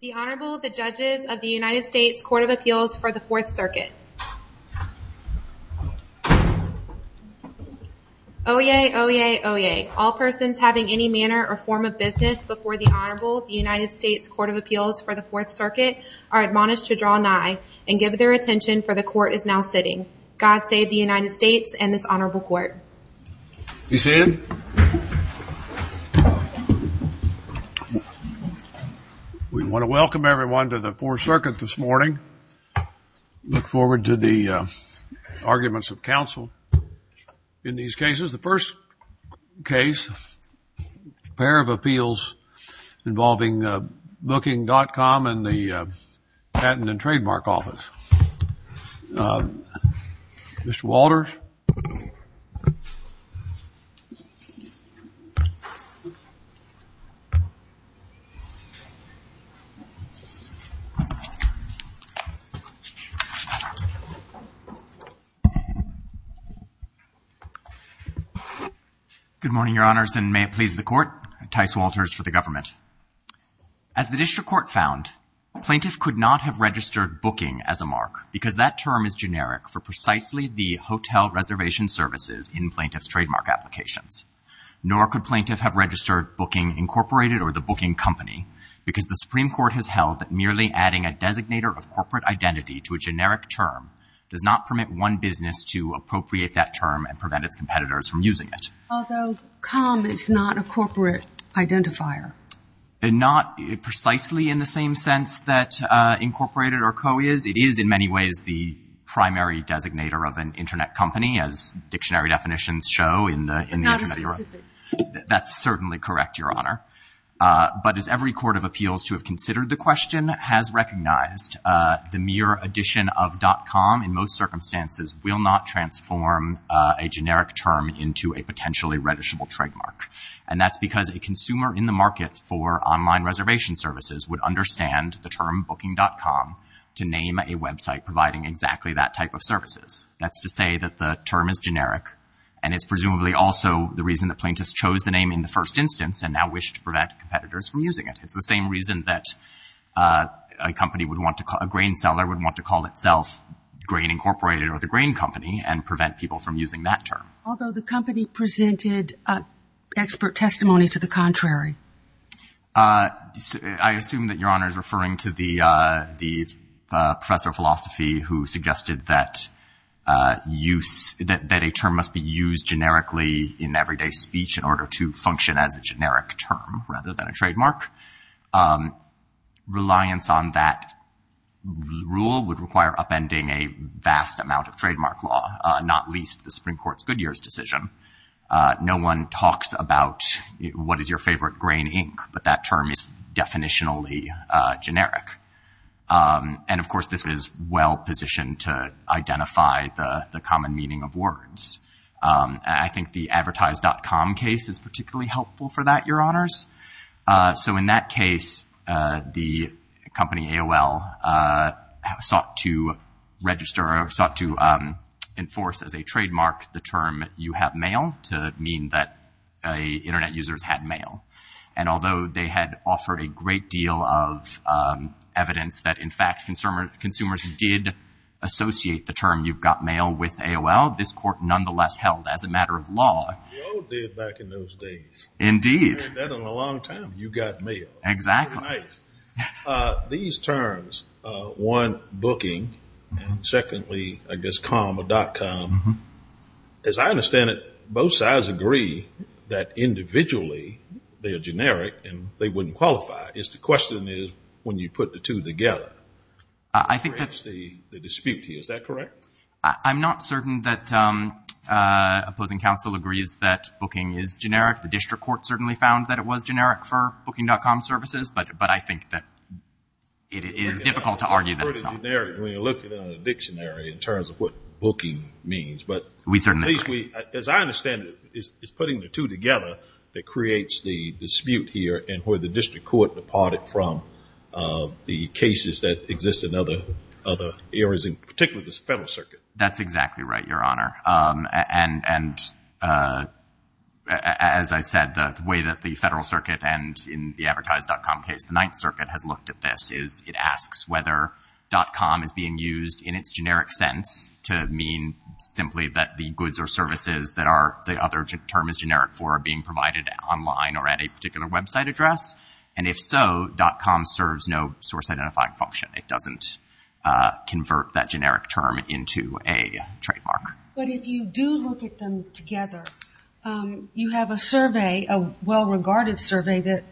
The Honorable, the Judges of the United States Court of Appeals for the Fourth Circuit. Oyez, oyez, oyez. All persons having any manner or form of business before the Honorable of the United States Court of Appeals for the Fourth Circuit are admonished to draw nigh and give their attention for the Court is now sitting. God save the United States and this Honorable Court. Be seated. We want to welcome everyone to the Fourth Circuit this morning. Look forward to the arguments of counsel in these cases. The first case, a pair of appeals involving Booking.com and the Patent and Trademark Office. Mr. Walters. Good morning, Your Honors, and may it please the Court, Tyce Walters for the government. As the district court found, plaintiff could not have registered Booking as a mark because that term is generic for precisely the hotel reservation services in plaintiff's trademark applications, nor could plaintiff have registered Booking, Incorporated or the Booking Company because the Supreme Court has held that merely adding a designator of corporate identity to a generic term does not permit one business to appropriate that term and prevent its competitors from using it. Although, com is not a corporate identifier. Not precisely in the same sense that incorporated or co is. It is in many ways the primary designator of an Internet company as dictionary definitions show in the Internet of Europe. That's certainly correct, Your Honor. But as every court of appeals to have considered the question has recognized, the mere addition of .com in most circumstances will not transform a generic term into a potentially registerable trademark and that's because a consumer in the market for online reservation services would understand the term Booking.com to name a website providing exactly that type of services. That's to say that the term is generic and it's presumably also the reason that plaintiffs chose the name in the first instance and now wish to prevent competitors from using it. It's the same reason that a company would want to call, a grain seller would want to call itself Grain Incorporated or the Grain Company and prevent people from using that term. Although the company presented expert testimony to the contrary. I assume that Your Honor is referring to the professor of philosophy who suggested that use, that a term must be used generically in everyday speech in order to function as a generic term rather than a trademark. Reliance on that rule would require upending a vast amount of trademark law, not least the Supreme Court's Goodyear's decision. No one talks about what is your favorite grain ink, but that term is definitionally generic. And of course, this is well positioned to identify the common meaning of words. I think the advertise.com case is particularly helpful for that, Your Honors. So in that case, the company AOL sought to register or sought to enforce as a trademark the term you have mail to mean that internet users had mail. And although they had offered a great deal of evidence that in fact consumers did associate the term you've got mail with AOL, this court nonetheless held as a matter of law. We all did back in those days. Indeed. We all did in a long time. You got mail. Exactly. Very nice. These terms, one, booking, and secondly, I guess com or dot com, as I understand it, both sides agree that individually they are generic and they wouldn't qualify. It's the question is when you put the two together. I think that's the dispute here. Is that correct? I'm not certain that opposing counsel agrees that booking is generic. The district court certainly found that it was generic for booking.com services, but I think that it is difficult to argue that it's not. When you're looking at a dictionary in terms of what booking means, but at least we, as I understand it, it's putting the two together that creates the dispute here and where the That's exactly right, Your Honor. And as I said, the way that the Federal Circuit and in the Advertise.com case, the Ninth Circuit has looked at this is it asks whether dot com is being used in its generic sense to mean simply that the goods or services that are the other term is generic for are being provided online or at a particular website address. And if so, dot com serves no source identifying function. It doesn't convert that generic term into a trademark. But if you do look at them together, you have a survey, a well-regarded survey that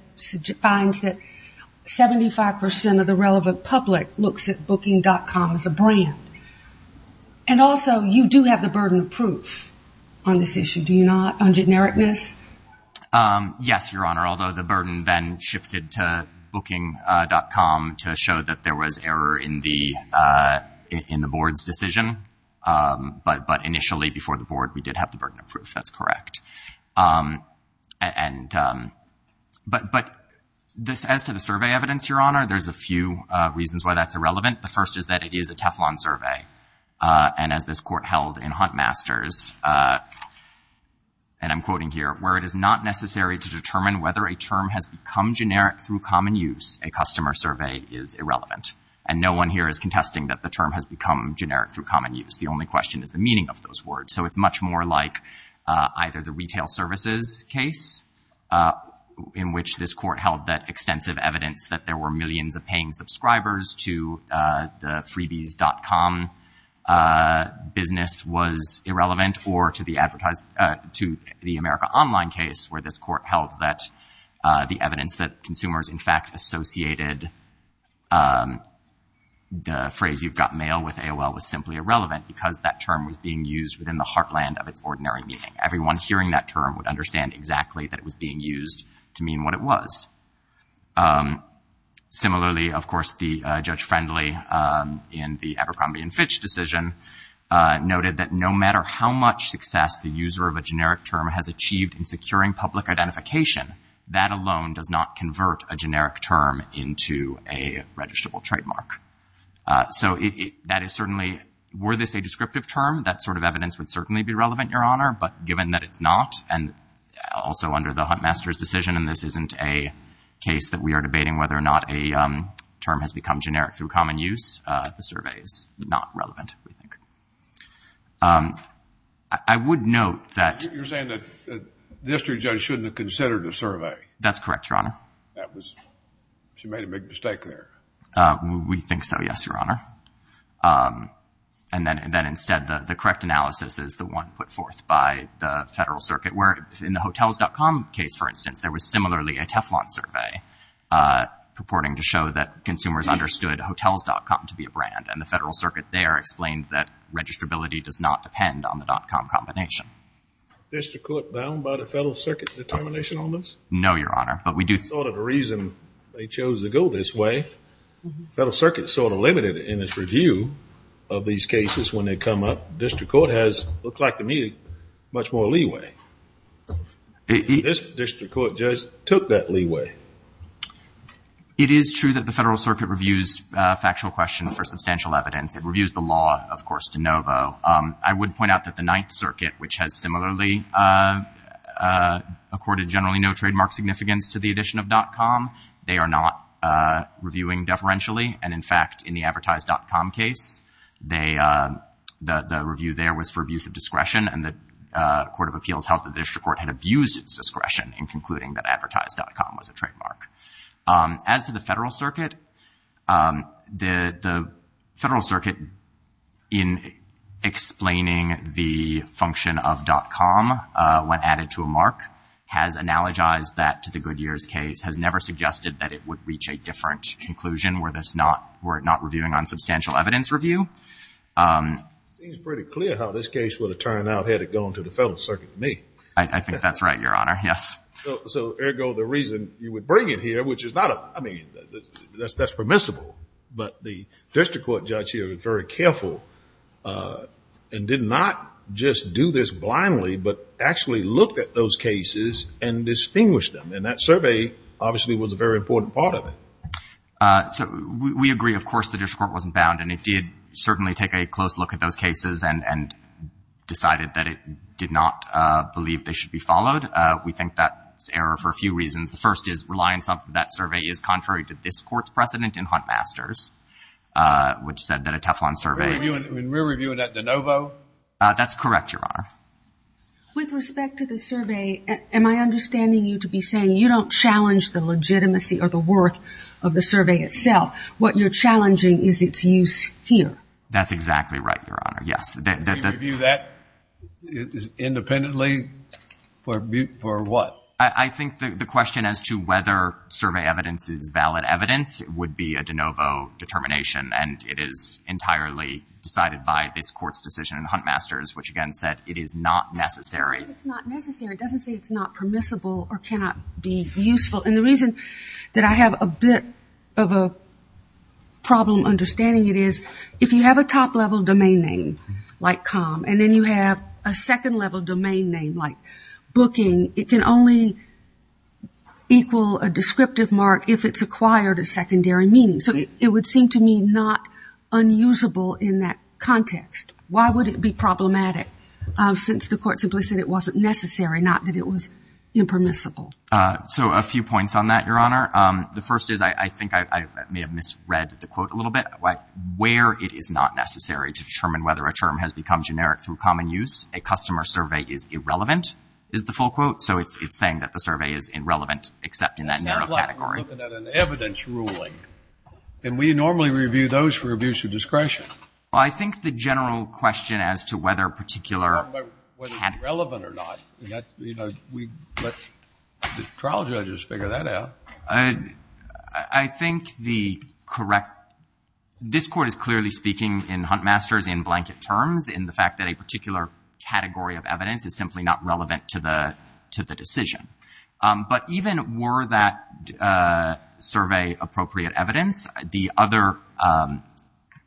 finds that 75 percent of the relevant public looks at booking.com as a brand. And also, you do have the burden of proof on this issue, do you not, on genericness? Yes, Your Honor. Although the burden then shifted to booking.com to show that there was error in the in the board's decision. But, but initially before the board, we did have the burden of proof, that's correct. And but but this as to the survey evidence, Your Honor, there's a few reasons why that's irrelevant. The first is that it is a Teflon survey. And as this court held in Hunt Masters, and I'm quoting here, where it is not necessary to determine whether a term has become generic through common use, a customer survey is irrelevant. And no one here is contesting that the term has become generic through common use. The only question is the meaning of those words. So it's much more like either the retail services case, in which this court held that extensive evidence that there were millions of paying subscribers to the freebies.com business was held that the evidence that consumers in fact associated the phrase you've got mail with AOL was simply irrelevant because that term was being used within the heartland of its ordinary meaning. Everyone hearing that term would understand exactly that it was being used to mean what it was. Similarly, of course, the Judge Friendly in the Abercrombie and Fitch decision noted that no matter how much success the user of a generic term has achieved in securing public identification, that alone does not convert a generic term into a registrable trademark. So that is certainly, were this a descriptive term, that sort of evidence would certainly be relevant, Your Honor. But given that it's not, and also under the Hunt Masters decision, and this isn't a case that we are debating whether or not a term has become generic through common use, the I would note that You're saying that the district judge shouldn't have considered the survey. That's correct, Your Honor. That was, she made a big mistake there. We think so, yes, Your Honor. And then instead, the correct analysis is the one put forth by the Federal Circuit, where in the Hotels.com case, for instance, there was similarly a Teflon survey purporting to show that consumers understood Hotels.com to be a brand, and the Federal Circuit there explained that registrability does not depend on the dot-com combination. District court bound by the Federal Circuit's determination on this? No, Your Honor. But we do Sort of the reason they chose to go this way, Federal Circuit sort of limited in its review of these cases when they come up. District court has, it looks like to me, much more leeway. This district court judge took that leeway. It is true that the Federal Circuit reviews factual questions for substantial evidence. It reviews the law, of course, de novo. I would point out that the Ninth Circuit, which has similarly accorded generally no trademark significance to the addition of dot-com, they are not reviewing deferentially. And in fact, in the Advertise.com case, they, the review there was for abuse of discretion, and the Court of Appeals held that the district court had abused its discretion in concluding that Advertise.com was a trademark. As to the Federal Circuit, the Federal Circuit, in explaining the function of dot-com when added to a mark, has analogized that to the Goodyear's case, has never suggested that it would reach a different conclusion were this not, were it not reviewing on substantial evidence review. It seems pretty clear how this case would have turned out had it gone to the Federal Circuit, to me. I think that's right, Your Honor, yes. So, ergo, the reason you would bring it here, which is not a, I mean, that's permissible, but the district court judge here was very careful and did not just do this blindly, but actually looked at those cases and distinguished them. And that survey, obviously, was a very important part of it. So we agree, of course, the district court wasn't bound, and it did certainly take a close look at those cases and decided that it did not believe they should be followed. We think that's error for a few reasons. The first is reliance on that survey is contrary to this court's precedent in Hunt-Masters, which said that a Teflon survey... We're reviewing that de novo? That's correct, Your Honor. With respect to the survey, am I understanding you to be saying you don't challenge the legitimacy or the worth of the survey itself? What you're challenging is its use here. That's exactly right, Your Honor, yes. We review that independently for what? I think the question as to whether survey evidence is valid evidence would be a de novo determination, and it is entirely decided by this court's decision in Hunt-Masters, which again said it is not necessary. It's not necessary. It doesn't say it's not permissible or cannot be useful. And the reason that I have a bit of a problem understanding it is, if you have a top-level domain name, like com, and then you have a second-level domain name, like booking, it can only equal a descriptive mark if it's acquired a secondary meaning. So it would seem to me not unusable in that context. Why would it be problematic, since the court simply said it wasn't necessary, not that it was impermissible? So a few points on that, Your Honor. The first is, I think I may have misread the quote a little bit. Where it is not necessary to determine whether a term has become generic through common use, a customer survey is irrelevant, is the full quote. So it's saying that the survey is irrelevant, except in that narrow category. It sounds like we're looking at an evidence ruling. And we normally review those for abuse of discretion. Well, I think the general question as to whether a particular category. Whether it's relevant or not, you know, we let the trial judges figure that out. I think the correct, this court is clearly speaking in Huntmasters, in blanket terms, in the fact that a particular category of evidence is simply not relevant to the decision. But even were that survey appropriate evidence, the other,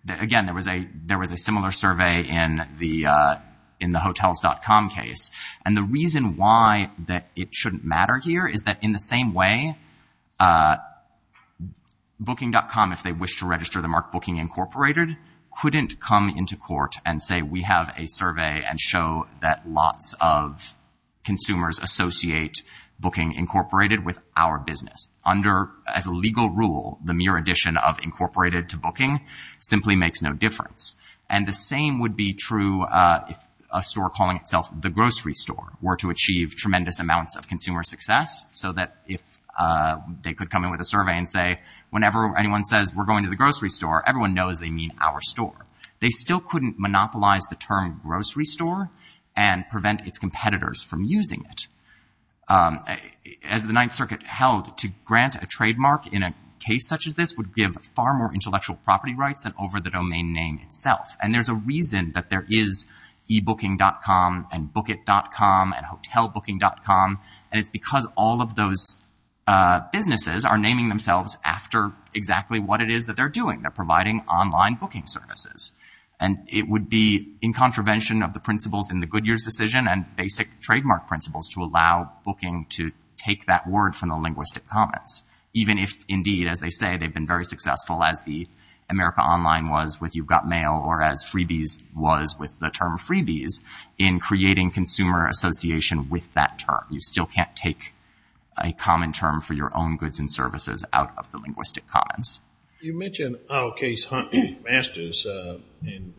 again, there was a similar survey in the Hotels.com case. And the reason why that it shouldn't matter here is that in the same way, Booking.com, if they wish to register the mark Booking Incorporated, couldn't come into court and say we have a survey and show that lots of consumers associate Booking Incorporated with our business. As a legal rule, the mere addition of Incorporated to Booking simply makes no difference. And the same would be true if a store calling itself the grocery store were to achieve tremendous amounts of consumer success. So that if they could come in with a survey and say, whenever anyone says we're going to the grocery store, everyone knows they mean our store. They still couldn't monopolize the term grocery store and prevent its competitors from using it. As the Ninth Circuit held, to grant a trademark in a case such as this would give far more And there's a reason that there is ebooking.com and bookit.com and hotelbooking.com, and it's because all of those businesses are naming themselves after exactly what it is that they're doing. They're providing online booking services. And it would be in contravention of the principles in the Goodyear's decision and basic trademark principles to allow booking to take that word from the linguistic comments. Even if indeed, as they say, they've been very successful as the America Online was with you've got mail or as freebies was with the term freebies in creating consumer association with that term. You still can't take a common term for your own goods and services out of the linguistic comments. You mentioned our case, Hunt Masters,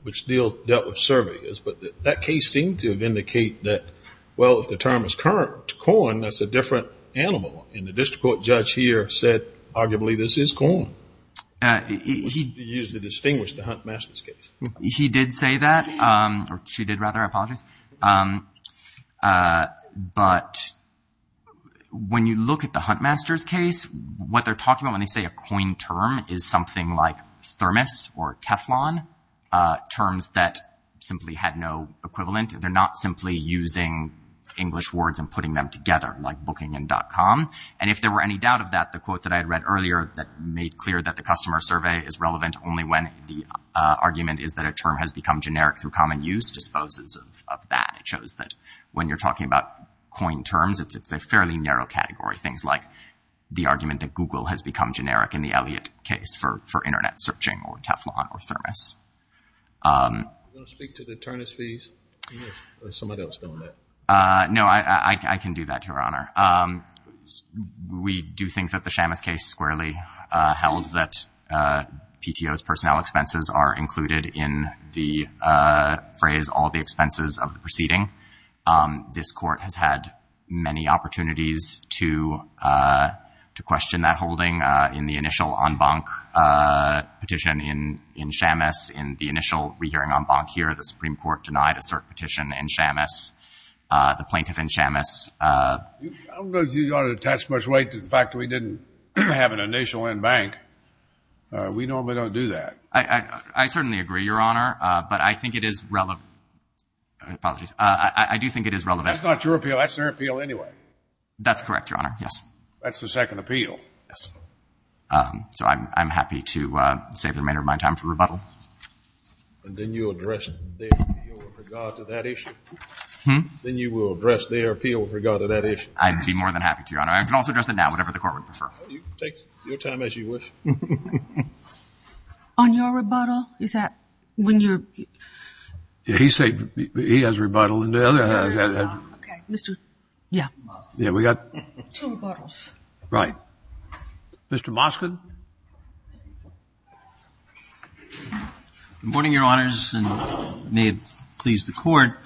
which still dealt with surveyors. But that case seemed to indicate that, well, if the term is current to corn, that's a different animal. And the district court judge here said, arguably, this is corn. He used the distinguished Hunt Masters case. He did say that, or she did rather, I apologize. But when you look at the Hunt Masters case, what they're talking about when they say a coin term is something like thermos or Teflon, terms that simply had no equivalent. They're not simply using English words and putting them together like booking and .com. And if there were any doubt of that, the quote that I had read earlier that made clear that the customer survey is relevant only when the argument is that a term has become generic through common use disposes of that. It shows that when you're talking about coin terms, it's a fairly narrow category. Things like the argument that Google has become generic in the Elliott case for internet searching or Teflon or thermos. You want to speak to the Ternus fees? Yes. Or is somebody else doing that? No, I can do that, Your Honor. We do think that the Shamus case squarely held that PTO's personnel expenses are included in the phrase, all the expenses of the proceeding. This court has had many opportunities to question that holding in the initial en banc petition in Shamus. In the initial re-hearing en banc here, the Supreme Court denied a cert petition in Shamus. The plaintiff in Shamus... I don't think you ought to attach much weight to the fact that we didn't have an initial en banc. We normally don't do that. I certainly agree, Your Honor, but I think it is... Apologies. I do think it is relevant... That's not your appeal. That's their appeal anyway. That's correct, Your Honor. Yes. That's the second appeal. Yes. So, I'm happy to save the remainder of my time for rebuttal. And then you'll address their appeal with regard to that issue? Hmm? Then you will address their appeal with regard to that issue? I'd be more than happy to, Your Honor. I can also address it now, whatever the court would prefer. Take your time as you wish. On your rebuttal, is that when you're... He has rebuttal and the other has... Okay. Mr.... Yeah. Yeah, we got... Two rebuttals. Right. Mr. Moskvin? Good morning, Your Honors, and may it please the court.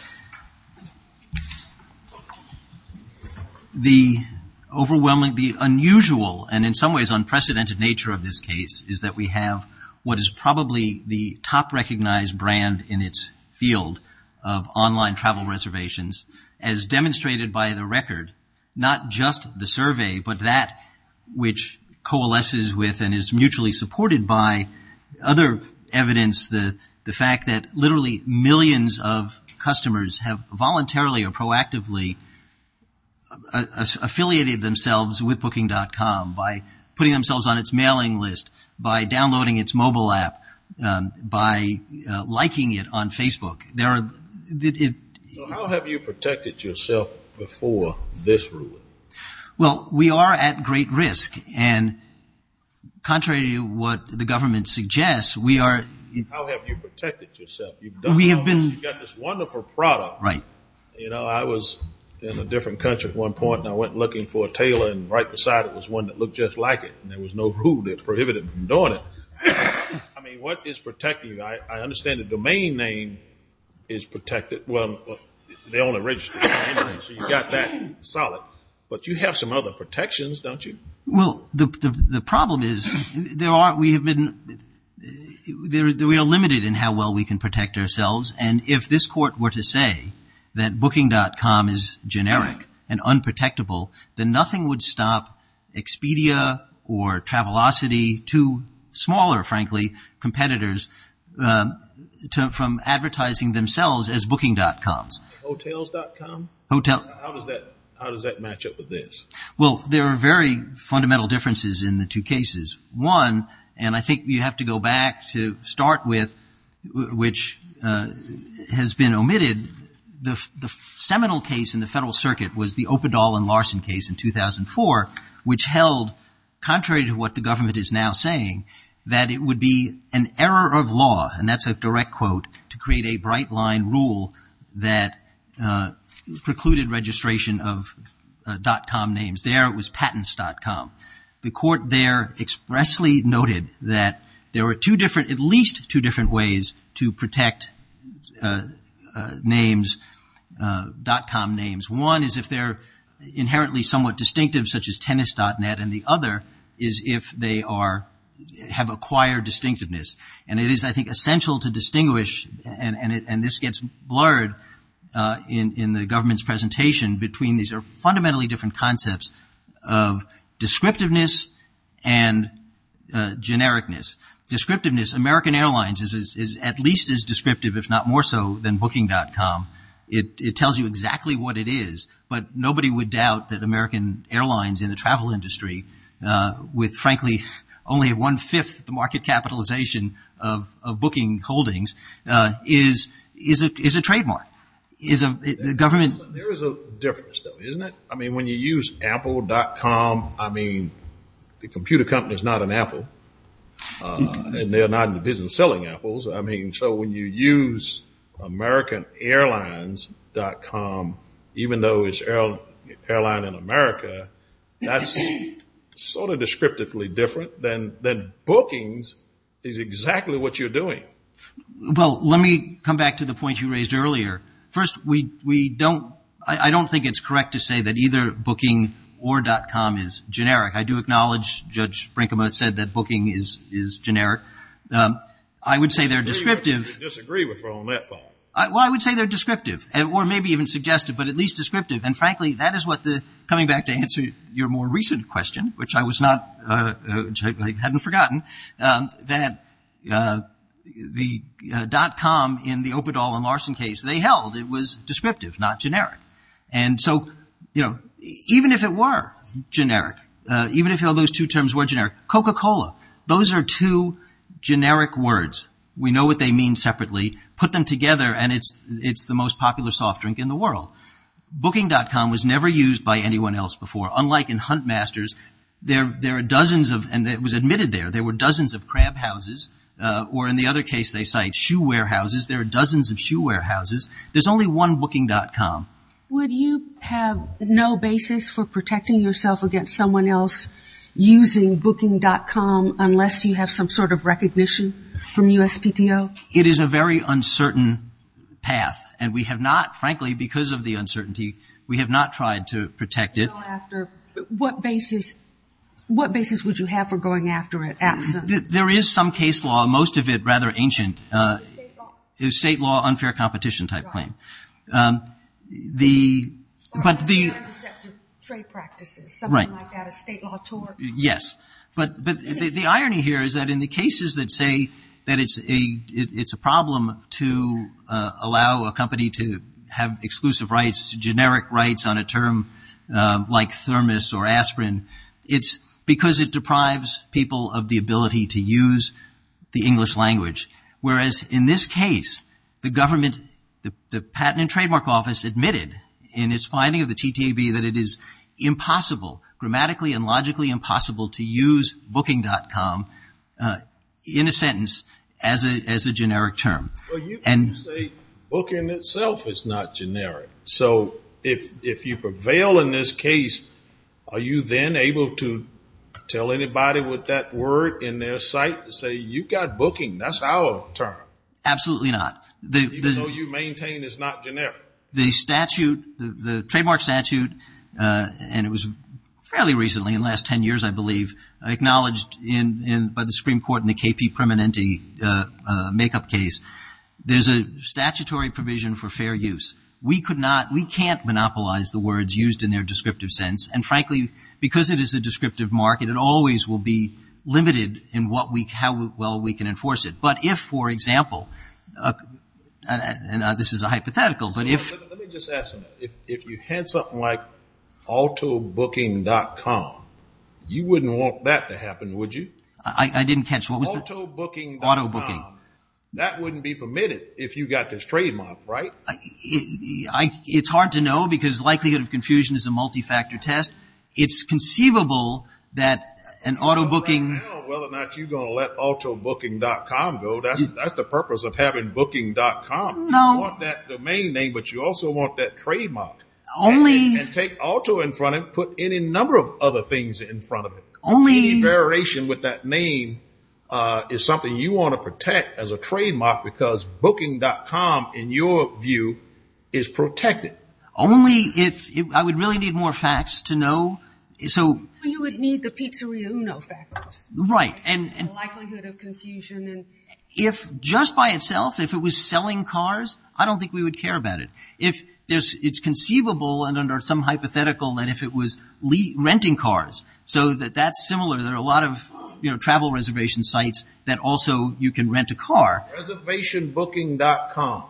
The overwhelming... The unusual and, in some ways, unprecedented nature of this case is that we have what is probably the top recognized brand in its field of online travel reservations, as demonstrated by the record. Not just the survey, but that which coalesces with and is mutually supported by other evidence, the fact that literally millions of customers have voluntarily or proactively affiliated themselves with Booking.com by putting themselves on its mailing list, by downloading its mobile app, by liking it on Facebook. There are... Well, we are at great risk, and contrary to what the government suggests, we are... How have you protected yourself? You've done all this. You've got this wonderful product. Right. You know, I was in a different country at one point, and I went looking for a tailor, and right beside it was one that looked just like it, and there was no rule that prohibited me from doing it. I mean, what is protecting you? I understand the domain name is protected. Well, they own a registry, so you've got that solid, but you have some other protections, don't you? Well, the problem is we are limited in how well we can protect ourselves, and if this court were to say that Booking.com is generic and unprotectable, then nothing would stop Expedia or Travelocity, two smaller, frankly, competitors, from advertising themselves as Booking.com. Hotels.com? Hotels. How does that match up with this? Well, there are very fundamental differences in the two cases. One, and I think you have to go back to start with, which has been omitted, the seminal case in the Federal Circuit was the Opendahl and Larson case in 2004, which held, contrary to what the government is now saying, that it would be an error of law, and that's a bright-line rule that precluded registration of dot-com names. There, it was patents.com. The court there expressly noted that there were two different, at least two different ways to protect names, dot-com names. One is if they're inherently somewhat distinctive, such as tennis.net, and the other is if they have acquired distinctiveness. And it is, I think, essential to distinguish, and this gets blurred in the government's presentation, between these fundamentally different concepts of descriptiveness and genericness. Descriptiveness, American Airlines is at least as descriptive, if not more so, than Booking.com. It tells you exactly what it is, but nobody would doubt that American Airlines in the country, only one-fifth of the market capitalization of booking holdings, is a trademark. There is a difference, though, isn't there? I mean, when you use apple.com, I mean, the computer company is not an apple, and they're not in the business selling apples. I mean, so when you use AmericanAirlines.com, even though it's Airline in America, that's sort of descriptively different than bookings is exactly what you're doing. Well, let me come back to the point you raised earlier. First, we don't, I don't think it's correct to say that either booking or dot-com is generic. I do acknowledge Judge Brinkema said that booking is generic. I would say they're descriptive. I disagree with her on that point. Well, I would say they're descriptive, or maybe even suggestive, but at least descriptive. And frankly, that is what the, coming back to answer your more recent question, which I was not, which I hadn't forgotten, that the dot-com in the Operdahl and Larson case, they held it was descriptive, not generic. And so, you know, even if it were generic, even if all those two terms were generic, Coca-Cola, those are two generic words. We know what they mean separately. Put them together, and it's the most popular soft drink in the world. Booking.com was never used by anyone else before, unlike in Hunt Masters. There are dozens of, and it was admitted there, there were dozens of crab houses, or in the other case they cite shoe warehouses. There are dozens of shoe warehouses. There's only one booking.com. Would you have no basis for protecting yourself against someone else using booking.com unless you have some sort of recognition from USPTO? It is a very uncertain path, and we have not, frankly, because of the uncertainty, we have not tried to protect it. What basis, what basis would you have for going after it? There is some case law, most of it rather ancient. State law? State law, unfair competition type claim. The, but the. Trade practices. Right. Something like that, a state law tort. Yes, but the irony here is that in the cases that say that it's a, it's a problem to allow a company to have exclusive rights, generic rights on a term like thermos or aspirin, it's because it deprives people of the ability to use the English language. Whereas in this case, the government, the Patent and Trademark Office admitted in its finding of the TTAB that it is impossible, grammatically and logically impossible to use booking.com in a sentence as a generic term. Well, you can say booking itself is not generic. So if you prevail in this case, are you then able to tell anybody with that word in their sight to say, you've got booking, that's our term. Absolutely not. Even though you maintain it's not generic. The statute, the trademark statute, and it was fairly recently, in the last ten years I believe, acknowledged by the Supreme Court in the KP Permanente makeup case. There's a statutory provision for fair use. We could not, we can't monopolize the words used in their descriptive sense. And frankly, because it is a descriptive market, it always will be limited in what we, how well we can enforce it. But if, for example, and this is a hypothetical, but if you had something like autobooking.com, you wouldn't want that to happen, would you? I didn't catch, what was that? Autobooking.com. That wouldn't be permitted if you got this trademark, right? It's hard to know because likelihood of confusion is a multi-factor test. It's conceivable that an autobooking. I don't know whether or not you're going to let autobooking.com go. That's the purpose of having booking.com. You want that domain name, but you also want that trademark. Only. And take auto in front of it, put any number of other things in front of it. Only. Any variation with that name is something you want to protect as a trademark because booking.com, in your view, is protected. Only if, I would really need more facts to know. You would need the Pizzeria Uno factors. Right. Likelihood of confusion. Just by itself, if it was selling cars, I don't think we would care about it. It's conceivable and under some hypothetical that if it was renting cars, so that's similar. There are a lot of travel reservation sites that also you can rent a car. Reservationbooking.com.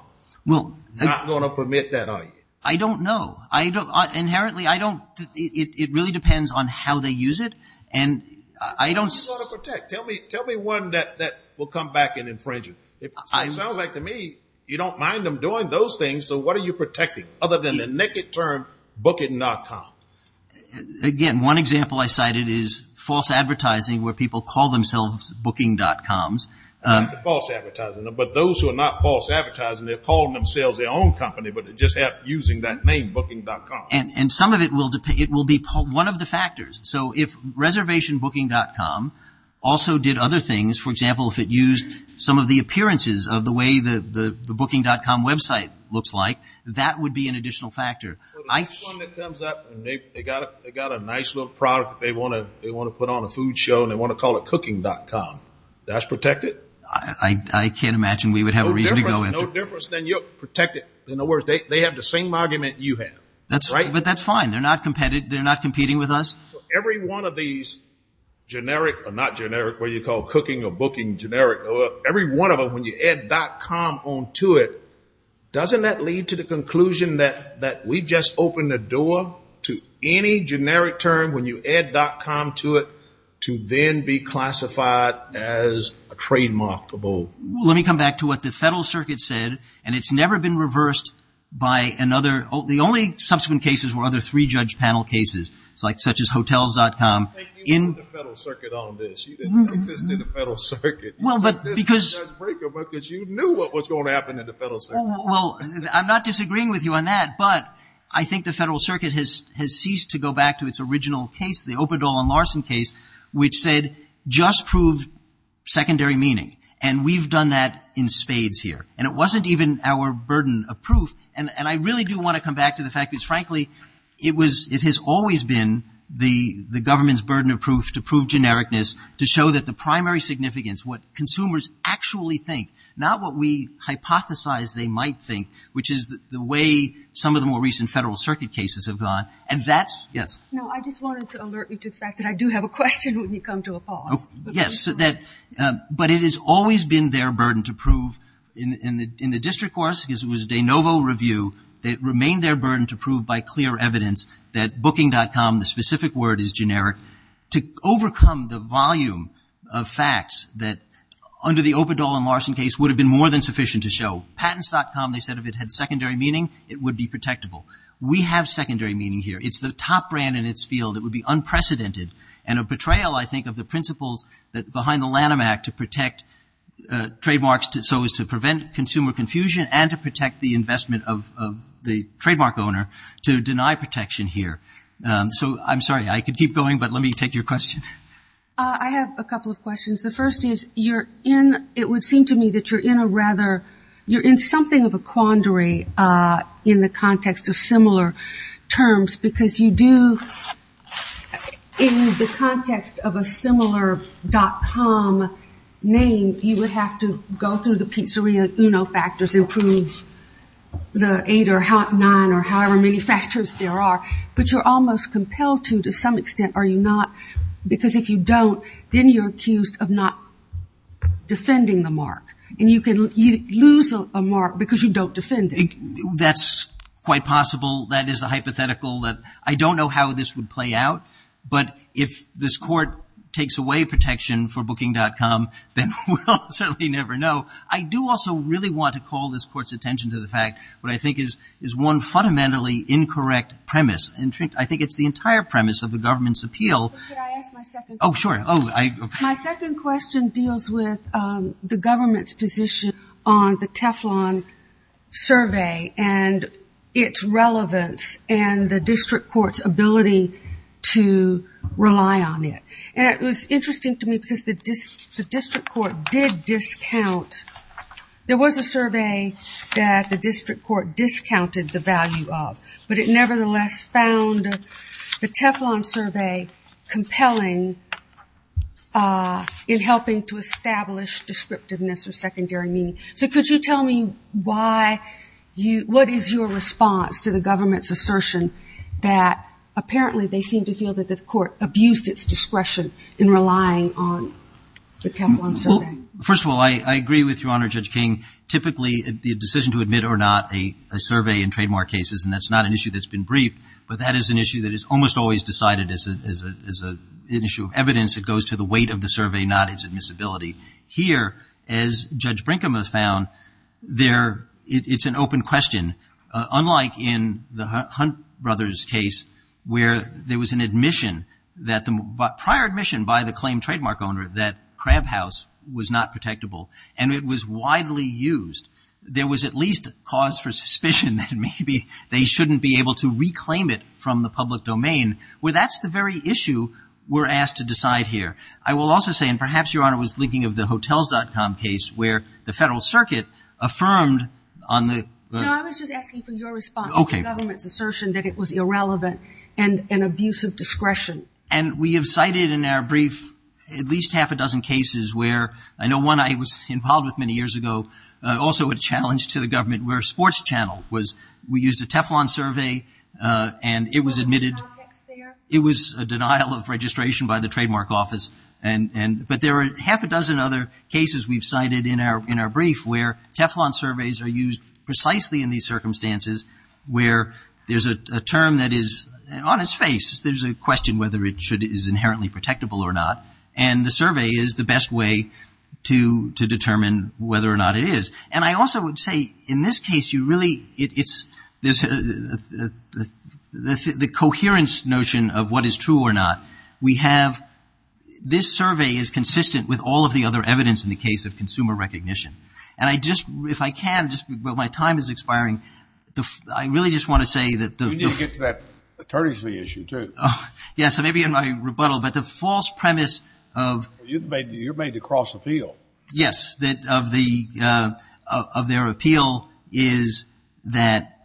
Not going to permit that, are you? I don't know. Inherently, it really depends on how they use it. What do you want to protect? Tell me one that will come back and infringe it. It sounds like to me you don't mind them doing those things, so what are you protecting other than the naked term booking.com? Again, one example I cited is false advertising where people call themselves booking.com. False advertising. But those who are not false advertising, they're calling themselves their own company, but they're just using that name, booking.com. And some of it will be one of the factors. So if reservationbooking.com also did other things, for example, if it used some of the appearances of the way the booking.com website looks like, that would be an additional factor. The next one that comes up, they got a nice little product they want to put on a food show and they want to call it cooking.com. That's protected? I can't imagine we would have a reason to go in. No difference than you'll protect it. In other words, they have the same argument you have. But that's fine. They're not competing with us. So every one of these generic or not generic, what you call cooking or booking generic, every one of them when you add .com onto it, doesn't that lead to the conclusion that we just opened the door to any generic term when you add .com to it to then be classified as a trademarkable? Let me come back to what the federal circuit said, and it's never been reversed by another. The only subsequent cases were other three-judge panel cases, such as hotels.com. I think you ruined the federal circuit on this. You didn't take this to the federal circuit. You took this to the judge's break because you knew what was going to happen at the federal circuit. Well, I'm not disagreeing with you on that, but I think the federal circuit has ceased to go back to its original case, the Opadol and Larson case, which said just prove secondary meaning. And we've done that in spades here. And it wasn't even our burden of proof. And I really do want to come back to the fact because, frankly, it has always been the government's burden of proof to prove genericness, to show that the primary significance, what consumers actually think, not what we hypothesize they might think, which is the way some of the more recent federal circuit cases have gone, and that's yes. No, I just wanted to alert you to the fact that I do have a question when you come to a pause. Yes, but it has always been their burden to prove in the district course, because it was a de novo review that remained their burden to prove by clear evidence that booking.com, the specific word is generic, to overcome the volume of facts that under the Opadol and Larson case would have been more than sufficient to show. Patents.com, they said if it had secondary meaning, it would be protectable. We have secondary meaning here. It's the top brand in its field. It would be unprecedented. And a betrayal, I think, of the principles behind the Lanham Act to protect trademarks so as to prevent consumer confusion and to protect the investment of the trademark owner to deny protection here. So I'm sorry, I could keep going, but let me take your question. I have a couple of questions. The first is you're in, it would seem to me that you're in a rather, you're in something of a quandary in the context of similar terms, because you do, in the context of a similar .com name, you would have to go through the Pizzeria Uno factors and prove the eight or nine or however many factors there are. But you're almost compelled to, to some extent, are you not? Because if you don't, then you're accused of not defending the mark. And you can lose a mark because you don't defend it. That's quite possible. That is a hypothetical that I don't know how this would play out. But if this court takes away protection for booking.com, then we'll certainly never know. I do also really want to call this court's attention to the fact, what I think is one fundamentally incorrect premise. In fact, I think it's the entire premise of the government's appeal. Could I ask my second question? Oh, sure. My second question deals with the government's position on the Teflon survey and its relevance and the district court's ability to rely on it. And it was interesting to me because the district court did discount. There was a survey that the district court discounted the value of. But it nevertheless found the Teflon survey compelling in helping to establish descriptiveness or secondary meaning. So could you tell me what is your response to the government's assertion that apparently they seem to feel that the court abused its discretion in relying on the Teflon survey? First of all, I agree with Your Honor, Judge King. Typically, the decision to admit or not a survey in trademark cases, and that's not an issue that's been briefed, but that is an issue that is almost always decided as an issue of evidence. It goes to the weight of the survey, not its admissibility. Here, as Judge Brinkham has found, it's an open question, unlike in the Hunt brothers' case where there was an admission that the prior admission by the claimed trademark owner that Crab House was not protectable and it was widely used. There was at least cause for suspicion that maybe they shouldn't be able to reclaim it from the public domain, where that's the very issue we're asked to decide here. I will also say, and perhaps Your Honor was thinking of the Hotels.com case where the Federal Circuit affirmed on the- No, I was just asking for your response to the government's assertion that it was irrelevant and an abuse of discretion. And we have cited in our brief at least half a dozen cases where, I know one I was involved with many years ago, also a challenge to the government where Sports Channel was, we used a Teflon survey and it was admitted- Was there context there? It was a denial of registration by the trademark office. But there are half a dozen other cases we've cited in our brief where Teflon surveys are used precisely in these circumstances where there's a term that is on its face. There's a question whether it is inherently protectable or not. And the survey is the best way to determine whether or not it is. And I also would say in this case you really, it's the coherence notion of what is true or not. We have, this survey is consistent with all of the other evidence in the case of consumer recognition. And I just, if I can, but my time is expiring, I really just want to say that- You need to get to that attorneys' fee issue too. Yes, maybe in my rebuttal, but the false premise of- You're made to cross the field. Yes, that of their appeal is that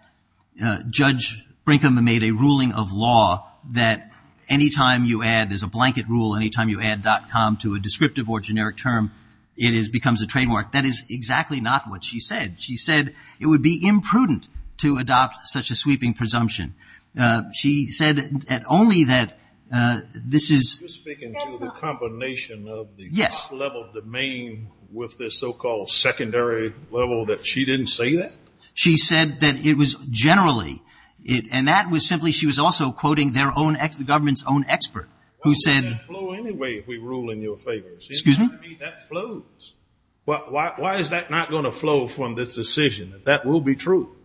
Judge Brinkman made a ruling of law that anytime you add, there's a blanket rule, anytime you add .com to a descriptive or generic term it becomes a trademark. That is exactly not what she said. She said it would be imprudent to adopt such a sweeping presumption. She said only that this is- With this so-called secondary level that she didn't say that? She said that it was generally, and that was simply she was also quoting their own, the government's own expert who said- Why would that flow anyway if we rule in your favor? Excuse me? I mean, that flows. Why is that not going to flow from this decision? That will be true.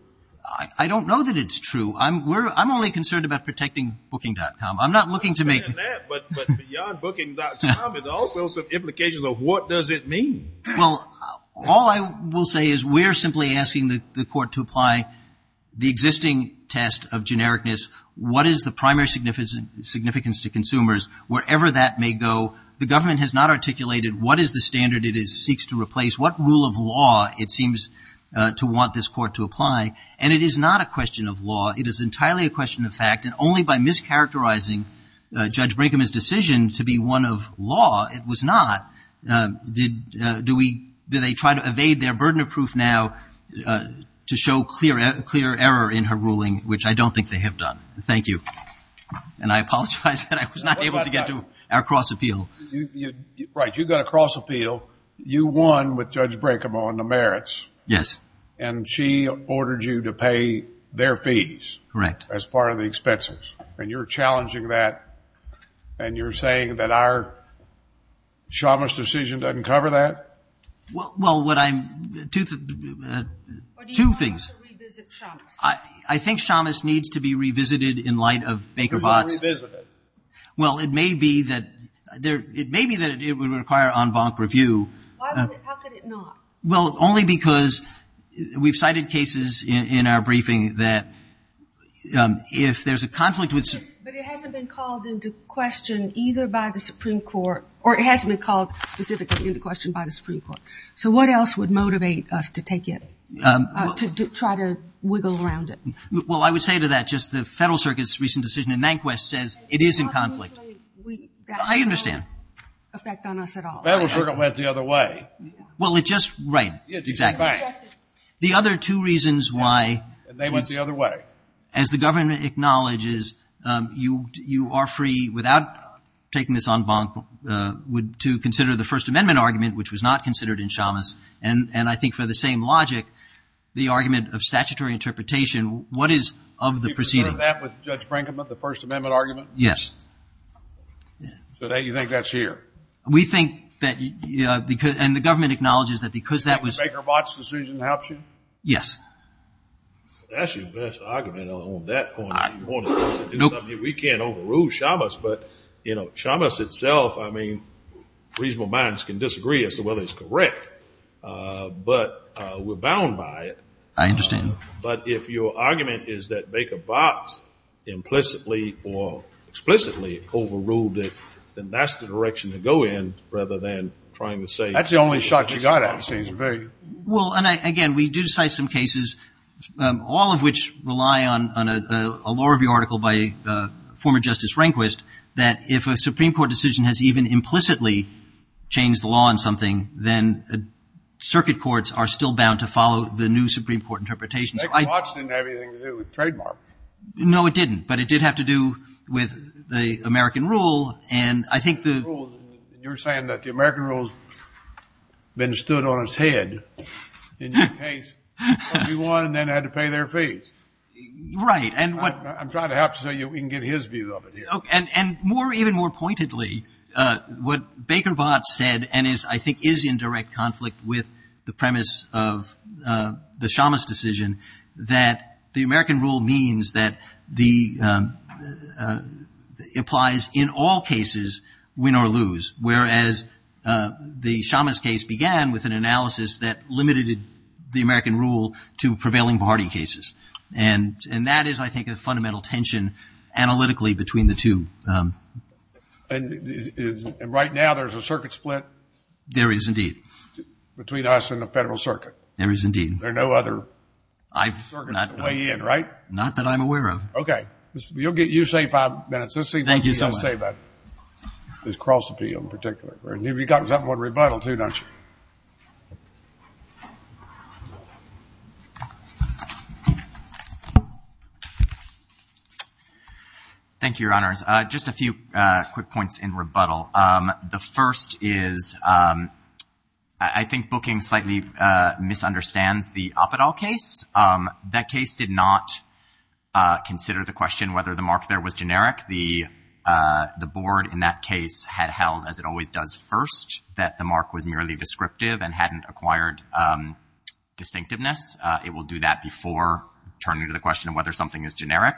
I don't know that it's true. I'm only concerned about protecting booking.com. I'm not looking to make- I understand that, but beyond booking.com, there's all sorts of implications of what does it mean. Well, all I will say is we're simply asking the court to apply the existing test of genericness. What is the primary significance to consumers, wherever that may go? The government has not articulated what is the standard it seeks to replace, what rule of law it seems to want this court to apply, and it is not a question of law. It is entirely a question of fact, and only by mischaracterizing Judge Brinkham's decision to be one of law, it was not. Did they try to evade their burden of proof now to show clear error in her ruling, which I don't think they have done. Thank you. And I apologize that I was not able to get to our cross appeal. Right. You got a cross appeal. You won with Judge Brinkham on the merits. Yes. And she ordered you to pay their fees. Correct. As part of the expenses. And you're challenging that, and you're saying that our Shamus decision doesn't cover that? Well, what I'm, two things. Or do you want us to revisit Shamus? I think Shamus needs to be revisited in light of Baker Votts. It's already revisited. Well, it may be that it would require en banc review. How could it not? Well, only because we've cited cases in our briefing that if there's a conflict with. But it hasn't been called into question either by the Supreme Court, or it hasn't been called specifically into question by the Supreme Court. So what else would motivate us to take it, to try to wiggle around it? Well, I would say to that, just the Federal Circuit's recent decision in Mankwest says it is in conflict. I understand. Federal Circuit went the other way. Well, it just, right. Exactly. The other two reasons why. They went the other way. As the government acknowledges, you are free without taking this en banc to consider the First Amendment argument, which was not considered in Shamus. And I think for the same logic, the argument of statutory interpretation, what is of the proceeding? Do you prefer that with Judge Brinkman, the First Amendment argument? Yes. So you think that's here? We think that, and the government acknowledges that because that was. Baker Botts decision helps you? Yes. That's your best argument on that point. We can't overrule Shamus. But, you know, Shamus itself, I mean, reasonable minds can disagree as to whether it's correct. But we're bound by it. I understand. But if your argument is that Baker Botts implicitly or explicitly overruled it, then that's the direction to go in rather than trying to say. That's the only shot you got at it. Well, and, again, we do cite some cases, all of which rely on a law review article by former Justice Rehnquist, that if a Supreme Court decision has even implicitly changed the law on something, then circuit courts are still bound to follow the new Supreme Court interpretation. Baker Botts didn't have anything to do with trademark. No, it didn't. But it did have to do with the American rule. And I think the. You're saying that the American rule has been stood on its head in your case. You won and then had to pay their fees. Right. And what. I'm trying to help so we can get his view of it here. And more, even more pointedly, what Baker Botts said and is, I think, is in direct conflict with the premise of the Shamus decision, that the American rule means that the, applies in all cases, win or lose. Whereas the Shamus case began with an analysis that limited the American rule to prevailing party cases. And that is, I think, a fundamental tension analytically between the two. And right now there's a circuit split. There is indeed. Between us and the Federal Circuit. There is indeed. There are no other circuits to weigh in, right? Not that I'm aware of. Okay. You say five minutes. Thank you so much. Let's see what you've got to say about this cross appeal in particular. You've got something on rebuttal too, don't you? Thank you, Your Honors. Just a few quick points in rebuttal. The first is, I think, booking slightly misunderstands the Apatow case. That case did not consider the question whether the mark there was generic. The board in that case had held, as it always does, first that the mark was merely descriptive and hadn't acquired distinctiveness. It will do that before turning to the question of whether something is generic.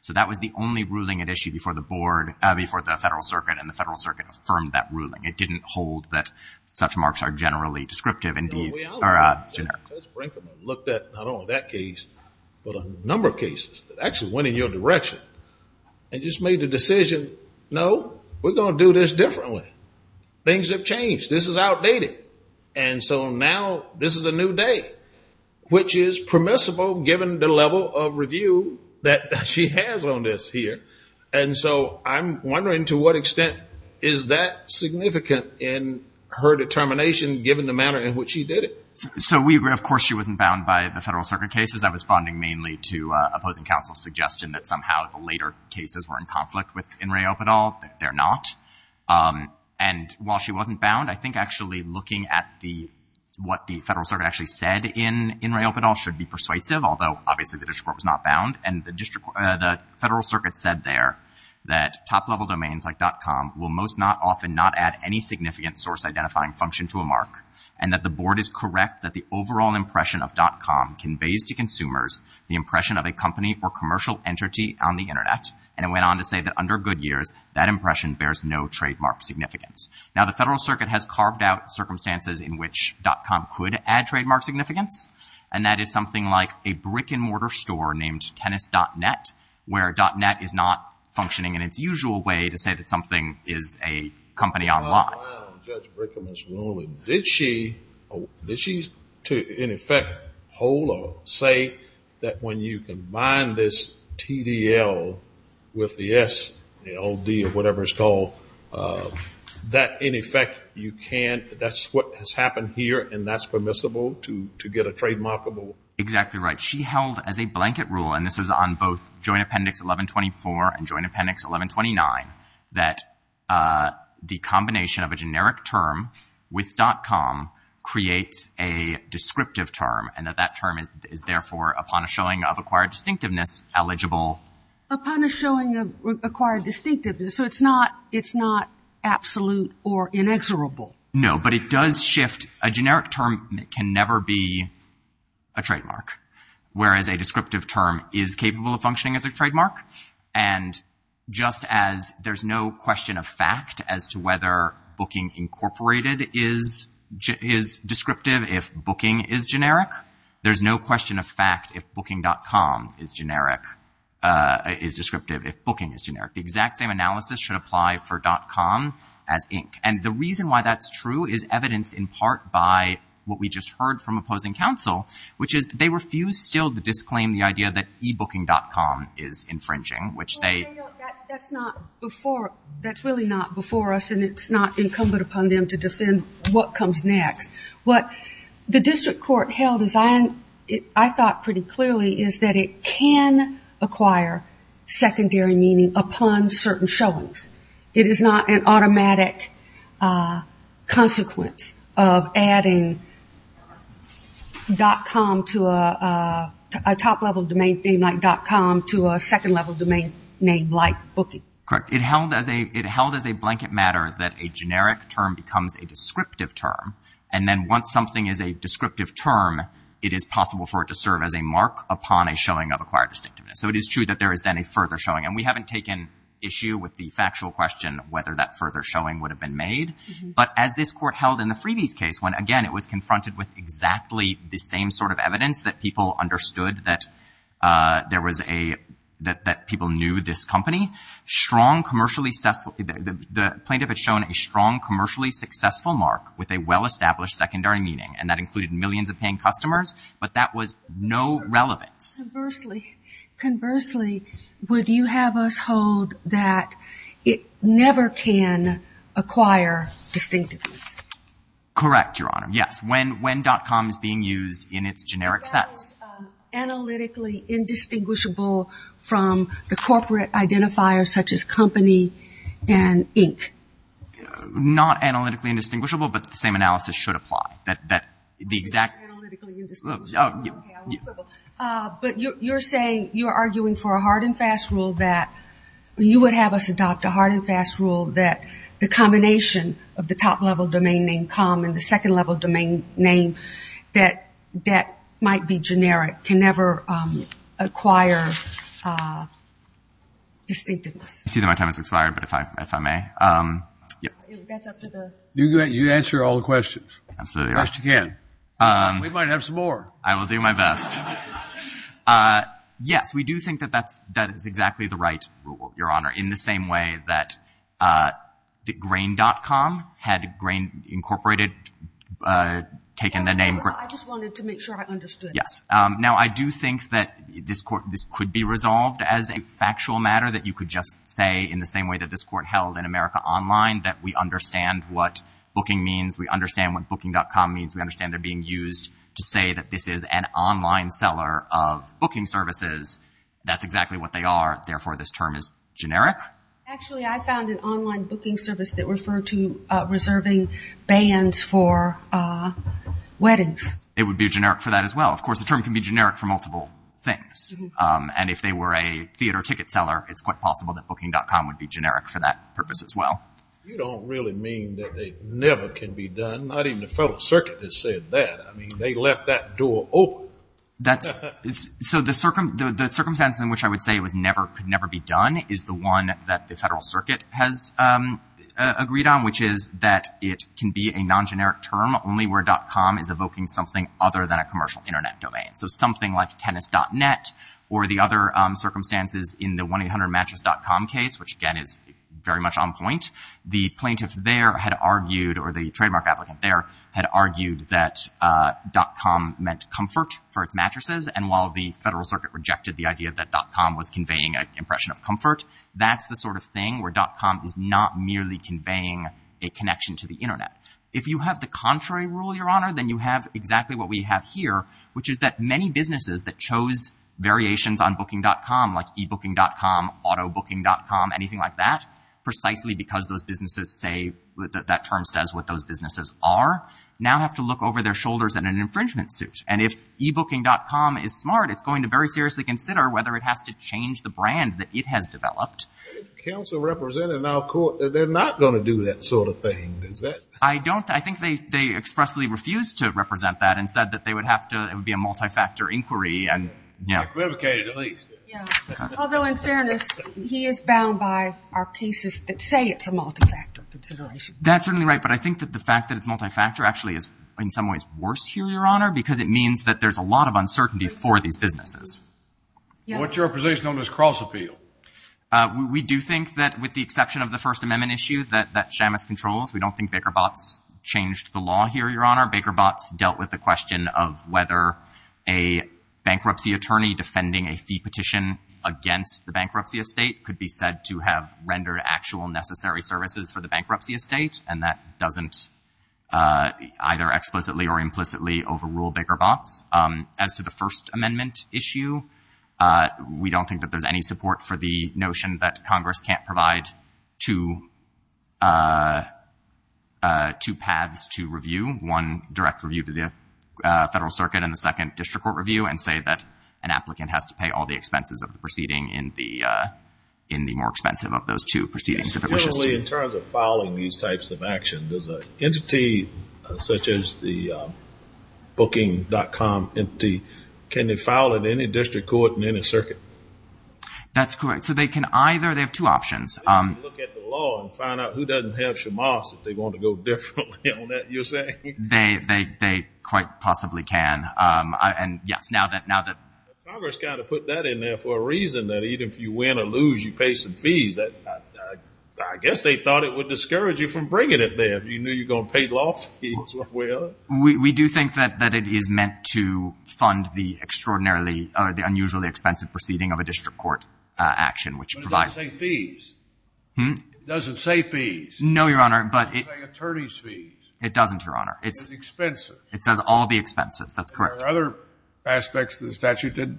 So that was the only ruling at issue before the board, before the Federal Circuit. And the Federal Circuit affirmed that ruling. It didn't hold that such marks are generally descriptive or generic. I looked at not only that case, but a number of cases that actually went in your direction and just made the decision, no, we're going to do this differently. Things have changed. This is outdated. And so now this is a new day, which is permissible given the level of review that she has on this here. And so I'm wondering to what extent is that significant in her determination given the manner in which she did it? So we agree. Of course, she wasn't bound by the Federal Circuit cases. I was bonding mainly to opposing counsel's suggestion that somehow the later cases were in conflict with In re Apatow. They're not. And while she wasn't bound, I think actually looking at the what the Federal Circuit actually said in In re Apatow should be persuasive, although obviously the district court was not bound and the district, the Federal Circuit said there that top level domains like dot com will most not often not add any significant source identifying function to a mark and that the board is correct that the overall impression of dot com conveys to consumers the impression of a company or commercial entity on the internet. And it went on to say that under good years, that impression bears no trademark significance. Now the Federal Circuit has carved out circumstances in which dot com could add trademark significance. And that is something like a brick and mortar store named tennis dot net, where dot net is not functioning in its usual way to say that something is a company online. Judge Brickham is wrong. Did she, did she in effect hold or say that when you combine this TDL with the SLD or whatever it's called, that in effect you can, that's what has happened here. And that's permissible to, to get a trademarkable exactly right. She held as a blanket rule and this is on both joint appendix 1124 and joint appendix 1129 that the combination of a generic term with dot com creates a descriptive term. And that that term is therefore upon a showing of acquired distinctiveness eligible upon a showing of acquired distinctiveness. So it's not, it's not absolute or inexorable. No, but it does shift. A generic term can never be a trademark. Whereas a descriptive term is capable of functioning as a trademark. And just as there's no question of fact as to whether booking incorporated is, is descriptive, if booking is generic, there's no question of fact if booking.com is generic is descriptive. If booking is generic, the exact same analysis should apply for.com as Inc. And the reason why that's true is evidenced in part by what we just heard from opposing counsel, which is they refuse still to disclaim the idea that ebooking.com is infringing, which they, that's not before that's really not before us and it's not incumbent upon them to defend what comes next. What the district court held is I, I thought pretty clearly is that it can acquire secondary meaning upon certain showings. It is not an automatic consequence of adding .com to a, a top level domain name like .com to a second level domain name like booking. Correct. It held as a it held as a blanket matter that a generic term becomes a descriptive term. And then once something is a descriptive term, it is possible for it to serve as a mark upon a showing of acquired distinctiveness. So it is true that there is then a further showing. And we haven't taken issue with the factual question, whether that further showing would have been made. But as this court held in the freebies case, when again, it was confronted with exactly the same sort of evidence that people understood that there was a, that, that people knew this company strong commercially successful, the plaintiff had shown a strong commercially successful mark with a well established secondary meaning. And that included millions of paying customers, but that was no relevance. Conversely, conversely, would you have us hold that it never can acquire distinctiveness? Correct. Your Honor. Yes. When, when .com is being used in its generic sense. Analytically indistinguishable from the corporate identifiers such as company and Inc. Not analytically indistinguishable, but the same analysis should apply that, that the exact. Analytically indistinguishable. But you're, you're saying you're arguing for a hard and fast rule that you would have us adopt a hard and fast rule that the combination of the top level domain name com and the second level domain name that, that might be generic can never acquire distinctiveness. I see that my time has expired, but if I, if I may. You answer all the questions. We might have some more. I will do my best. Yes, we do think that that's, that is exactly the right rule, Your Honor. In the same way that the grain.com had grain incorporated, taken the name. I just wanted to make sure I understood. Yes. Now I do think that this court, this could be resolved as a factual matter that you could just say in the same way that this court held in America online, that we understand what booking means. We understand what booking.com means. We understand they're being used to say that this is an online seller of booking services. That's exactly what they are. Therefore, this term is generic. Actually, I found an online booking service that referred to reserving bands for weddings. It would be generic for that as well. Of course, the term can be generic for multiple things. And if they were a theater ticket seller, it's quite possible that booking.com would be generic for that purpose as well. You don't really mean that they never can be done. Not even the federal circuit has said that. I mean, they left that door open. So the circumstance in which I would say it was never, could never be done is the one that the federal circuit has agreed on, which is that it can be a non-generic term only where.com is evoking something other than a commercial internet domain. So something like tennis.net or the other circumstances in the 1-800 mattress.com case, which again is very much on point. The plaintiff there had argued, or the trademark applicant there had argued that.com meant comfort for its mattresses. And while the federal circuit rejected the idea that.com was conveying an impression of comfort, that's the sort of thing where.com is not merely conveying a connection to the internet. If you have the contrary rule, Your Honor, then you have exactly what we have here, which is that many businesses that chose variations on booking.com, like ebooking.com, auto booking.com, anything like that, precisely because those businesses say that that term says what those businesses are, now have to look over their shoulders in an infringement suit. And if ebooking.com is smart, it's going to very seriously consider whether it has to change the brand that it has developed. Counsel represented in our court, they're not going to do that sort of thing. I don't, I think they expressly refused to represent that and said that they would it would be a multi-factor inquiry and you know, although in fairness, he is bound by our cases that say it's a multi-factor consideration. That's certainly right. But I think that the fact that it's multi-factor actually is in some ways worse here, Your Honor, because it means that there's a lot of uncertainty for these businesses. What's your position on this cross appeal? We do think that with the exception of the first amendment issue that, that Shamus controls, we don't think Baker Botts changed the law here, Your Honor. Baker Botts dealt with the question of whether a bankruptcy attorney defending a fee petition against the bankruptcy estate could be said to have rendered actual necessary services for the bankruptcy estate. And that doesn't either explicitly or implicitly overrule Baker Botts. As to the first amendment issue, we don't think that there's any support for the notion that Congress can't provide two, two paths to review. One direct review to the federal circuit and the second district court review and say that an applicant has to pay all the expenses of the proceeding in the, in the more expensive of those two proceedings if it wishes to. Generally in terms of filing these types of actions, does an entity such as the booking.com entity, can they file at any district court in any circuit? That's correct. So they can either, they have two options. Look at the law and find out who doesn't have Shamus if they want to go differently on that, you're saying? They, they, they quite possibly can. And yes, now that, now that Congress kind of put that in there for a reason that even if you win or lose, you pay some fees that I guess they thought it would discourage you from bringing it there. If you knew you're going to pay law fees. Well, we do think that, that it is meant to fund the extraordinarily or the unusually expensive proceeding of a district court action, which provides. It doesn't say fees. No, Your Honor, but it attorney's fees. It doesn't Your Honor. It's expensive. It says all the expenses. That's correct. Other aspects of the statute did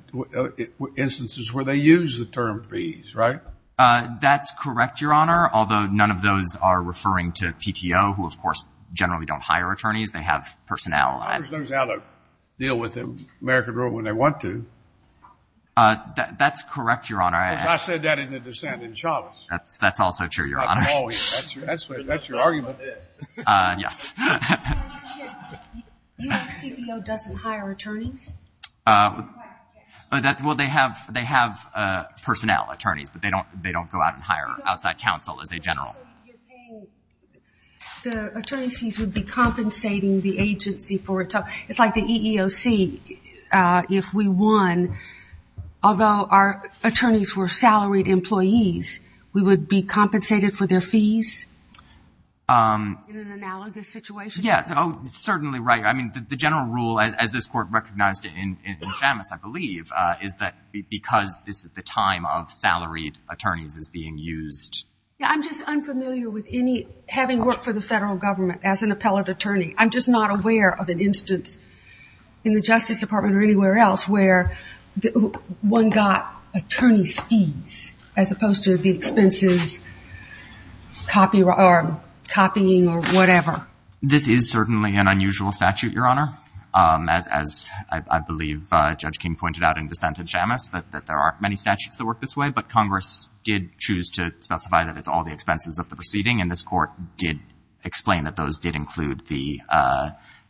instances where they use the term fees, right? That's correct. Your Honor. Although none of those are referring to PTO, who of course generally don't hire attorneys. They have personnel. Deal with them. American rule when they want to. That's correct. Your Honor. I said that in a dissent in Chavez. That's, that's also true. Your Honor. That's your argument. Yes. U.S. TPO doesn't hire attorneys. Well, they have, they have personnel attorneys, but they don't, they don't go out and hire outside counsel as a general. The attorney's fees would be compensating the agency for a tough. It's like the EEOC. If we won, although our attorneys were salaried employees, we would be compensated for their fees. In an analogous situation? Yes. Oh, certainly right. I mean, the general rule, as this court recognized it in Chavez, I believe, is that because this is the time of salaried attorneys is being used. Yeah. I'm just unfamiliar with any, having worked for the federal government as an appellate attorney. I'm just not aware of an instance in the justice department or anywhere else where one got attorney's fees as opposed to the expenses copying or whatever. This is certainly an unusual statute, Your Honor. As I believe Judge King pointed out in dissent in Shamus, that there aren't many statutes that work this way, but Congress did choose to specify that it's all the expenses of the proceeding. And this court did explain that those did include the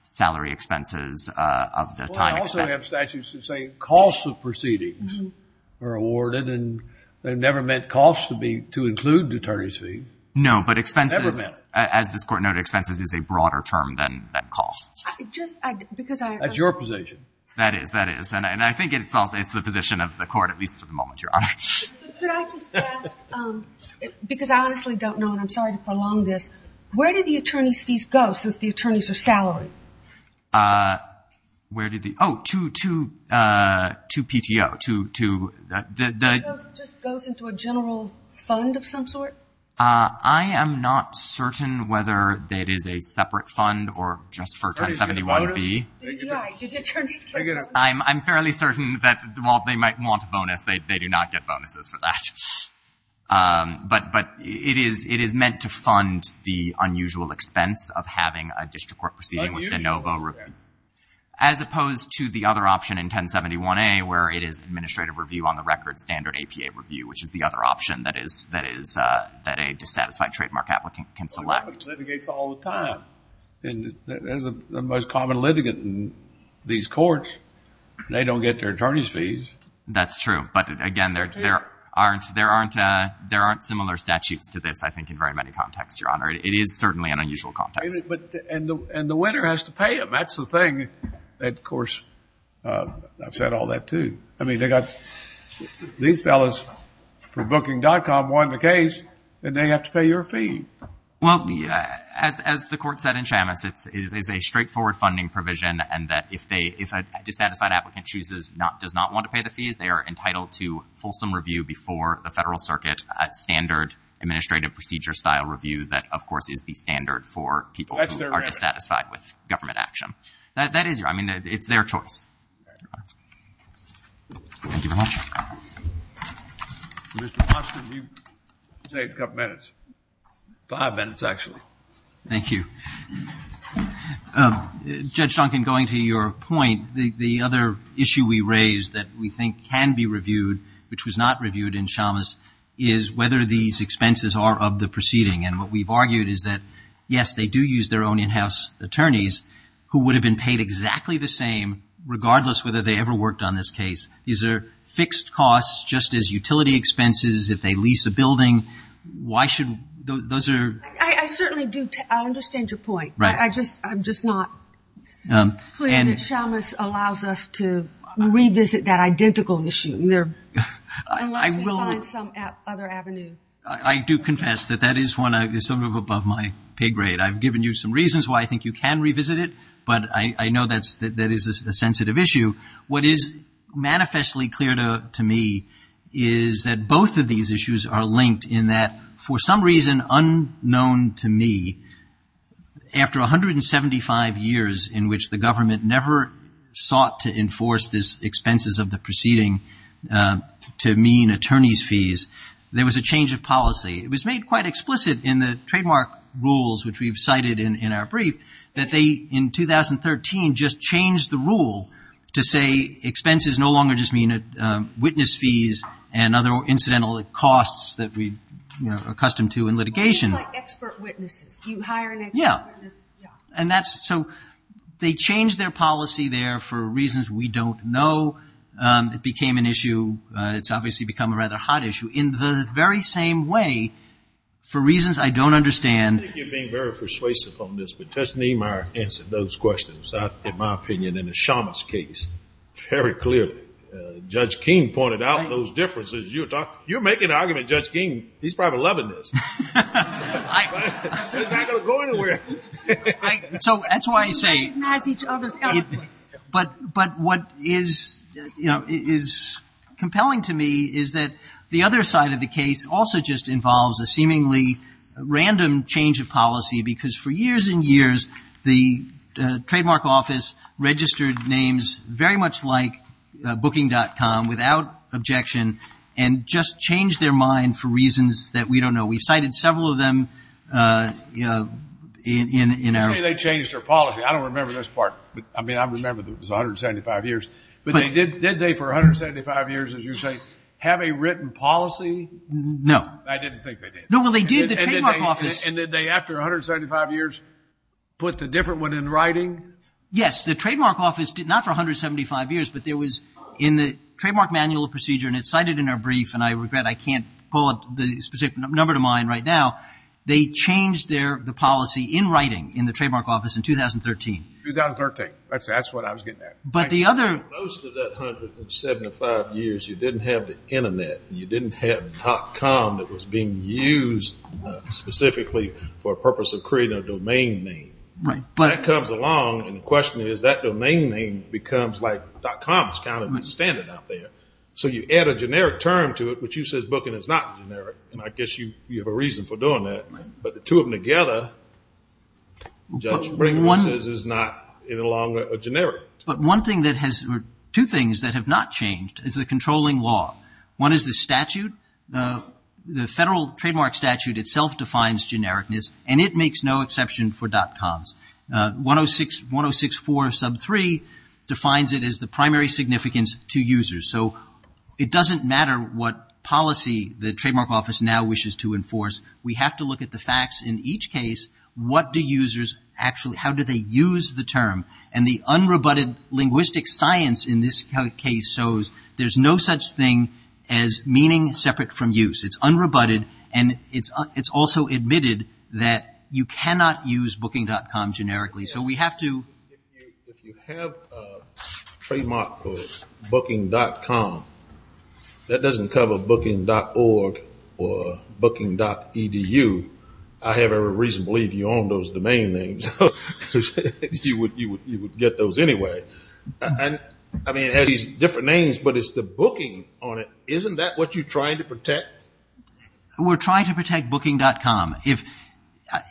salary expenses of the time. Well, I also have statutes that say costs of proceedings are awarded, and they never meant costs to include attorney's fees. No, but expenses, as this court noted, expenses is a broader term than costs. That's your position. That is. That is. And I think it's the position of the court, at least for the moment, Your Honor. Could I just ask, because I honestly don't know, and I'm sorry to prolong this, where did the attorney's fees go since the attorneys are salaried? Where did the, oh, to PTO. It just goes into a general fund of some sort? I am not certain whether it is a separate fund or just for 1071B. Did the attorneys get a bonus? I'm fairly certain that while they might want a bonus, they do not get bonuses for that. But it is meant to fund the unusual expense of having a district court proceeding with de novo. Unusual. As opposed to the other option in 1071A, where it is administrative review on the record standard APA review, which is the other option that is, that a dissatisfied trademark applicant can select. Litigates all the time. There's the most common litigant in these courts. They don't get their attorney's fees. That's true. But again, there aren't similar statutes to this, I think, in very many contexts, Your Honor. It is certainly an unusual context. And the winner has to pay them. That's the thing that, of course, I've said all that, too. I mean, they got, these fellas from Booking.com won the case, and they have to pay your fee. Well, as the Court said in Shamus, it is a straightforward funding provision, and that if a dissatisfied applicant chooses, does not want to pay the fees, they are entitled to fulsome review before the Federal Circuit, standard administrative procedure-style review that, of course, is the standard for people who are dissatisfied with government action. That is your, I mean, it's their choice. Thank you, Your Honor. Thank you, Your Honor. Mr. Austin, you saved a couple minutes. Five minutes, actually. Thank you. Judge Duncan, going to your point, the other issue we raised that we think can be reviewed, which was not reviewed in Shamus, is whether these expenses are of the proceeding. And what we've argued is that, yes, they do use their own in-house attorneys, who would have been paid exactly the same, regardless whether they ever worked on this case. These are fixed costs, just as utility expenses if they lease a building. Why should, those are. I certainly do, I understand your point. Right. I just, I'm just not clear that Shamus allows us to revisit that identical issue. Unless we find some other avenue. I do confess that that is one, some of above my pay grade. I've given you some reasons why I think you can revisit it, but I know that's, that is a sensitive issue. What is manifestly clear to me is that both of these issues are linked in that, for some reason unknown to me, after 175 years in which the government never sought to enforce these expenses of the proceeding to mean attorney's fees, there was a change of policy. It was made quite explicit in the trademark rules, which we've cited in our brief, that they, in 2013, just changed the rule to say expenses no longer just mean witness fees and other incidental costs that we are accustomed to in litigation. It's like expert witnesses. You hire an expert witness. Yeah. And that's, so they changed their policy there for reasons we don't know. It became an issue, it's obviously become a rather hot issue. In the very same way, for reasons I don't understand. I think you're being very persuasive on this, but Judge Niemeyer answered those questions, in my opinion, in the Shamas case very clearly. Judge King pointed out those differences. You're making an argument, Judge King, he's probably loving this. He's not going to go anywhere. So that's why I say. We recognize each other's eloquence. But what is, you know, compelling to me is that the other side of the case also just involves a seemingly random change of policy because for years and years, the trademark office registered names very much like booking.com without objection and just changed their mind for reasons that we don't know. We've cited several of them in our. You say they changed their policy. I don't remember this part. I mean, I remember it was 175 years. But did they for 175 years, as you say, have a written policy? No. I didn't think they did. No, well, they did. The trademark office. And did they, after 175 years, put the different one in writing? Yes. The trademark office did not for 175 years, but there was in the trademark manual procedure, and it's cited in our brief, and I regret I can't pull up the specific number to mine right now. They changed the policy in writing in the trademark office in 2013. 2013. That's what I was getting at. Most of that 175 years, you didn't have the internet. You didn't have .com that was being used specifically for a purpose of creating a domain name. That comes along, and the question is that domain name becomes like .com is kind of standard out there. So you add a generic term to it, which you said booking is not generic, and I guess you have a reason for doing that. But the two of them together, is not any longer generic. But one thing that has, two things that have not changed is the controlling law. One is the statute. The federal trademark statute itself defines genericness, and it makes no exception for .coms. 1064 sub 3 defines it as the primary significance to users. So it doesn't matter what policy the trademark office now wishes to enforce. We have to look at the facts in each case. What do users actually, how do they use the term? And the unrebutted linguistic science in this case shows there's no such thing as meaning separate from use. It's unrebutted, and it's also admitted that you cannot use booking.com generically. So we have to. If you have a trademark called booking.com, that doesn't cover booking.org or booking.edu. I have every reason to believe you own those domain names. You would get those anyway. I mean, it has these different names, but it's the booking on it. Isn't that what you're trying to protect? We're trying to protect booking.com.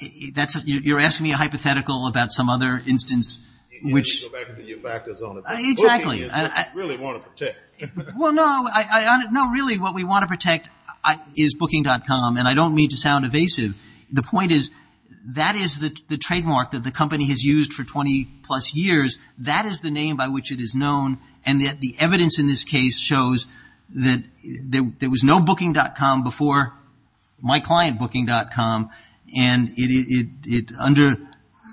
You're asking me a hypothetical about some other instance which. Let me go back to your factors on it. Exactly. Booking is what we really want to protect. Well, no, really what we want to protect is booking.com, and I don't mean to sound evasive. The point is that is the trademark that the company has used for 20-plus years. That is the name by which it is known, and the evidence in this case shows that there was no booking.com before my client booking.com, and under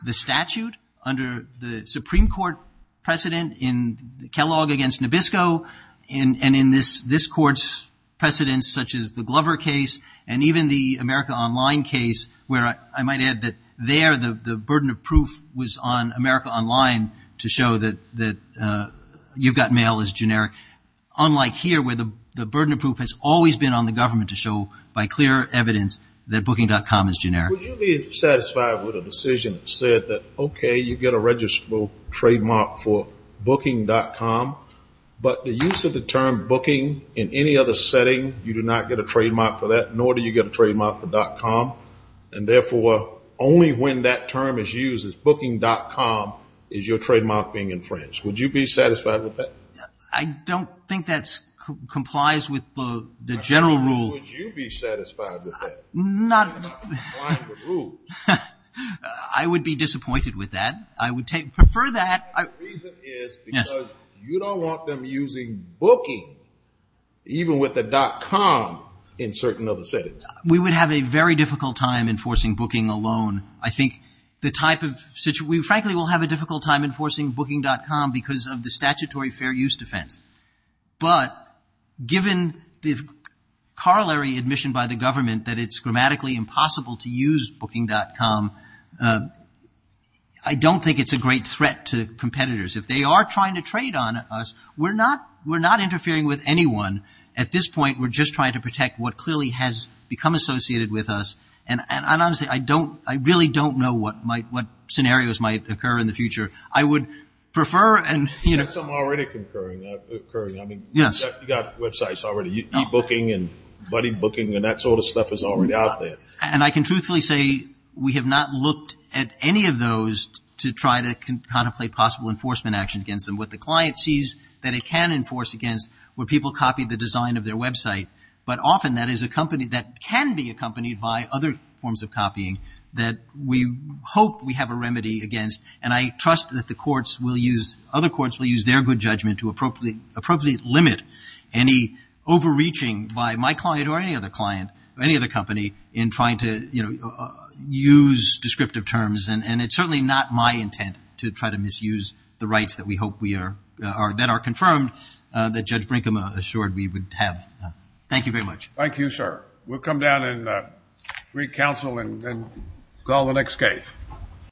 the statute, under the Supreme Court precedent in Kellogg against Nabisco, and in this court's precedent such as the Glover case and even the America Online case where I might add that there the burden of proof was on America Online to show that you've got mail as generic, unlike here where the burden of proof has always been on the government to show by clear evidence that booking.com is generic. Would you be satisfied with a decision that said that, okay, you get a registrable trademark for booking.com, but the use of the term booking in any other setting, you do not get a trademark for that, nor do you get a trademark for .com, and therefore, only when that term is used as booking.com is your trademark being infringed. Would you be satisfied with that? I don't think that complies with the general rule. How would you be satisfied with that? I would be disappointed with that. I would prefer that. The reason is because you don't want them using booking even with a .com in certain other settings. We would have a very difficult time enforcing booking alone. I think the type of situation, we frankly will have a difficult time enforcing booking.com because of the statutory fair use defense, but given the corollary admission by the government that it's grammatically impossible to use booking.com, I don't think it's a great threat to competitors. If they are trying to trade on us, we're not interfering with anyone. At this point, we're just trying to protect what clearly has become associated with us, and honestly, I really don't know what scenarios might occur in the future. I would prefer. That's already occurring. You've got websites already. E-booking and buddy booking and that sort of stuff is already out there. And I can truthfully say we have not looked at any of those to try to contemplate possible enforcement action against them. What the client sees that it can enforce against where people copy the design of their website, but often that is a company that can be accompanied by other forms of copying that we hope we have a remedy against, and I trust that the courts will use, other courts will use their good judgment to appropriately limit any overreaching by my client or any other client or any other company in trying to use descriptive terms. And it's certainly not my intent to try to misuse the rights that we hope that are confirmed that Judge Brinkham assured we would have. Thank you very much. Thank you, sir. We'll come down and read counsel and call the next case.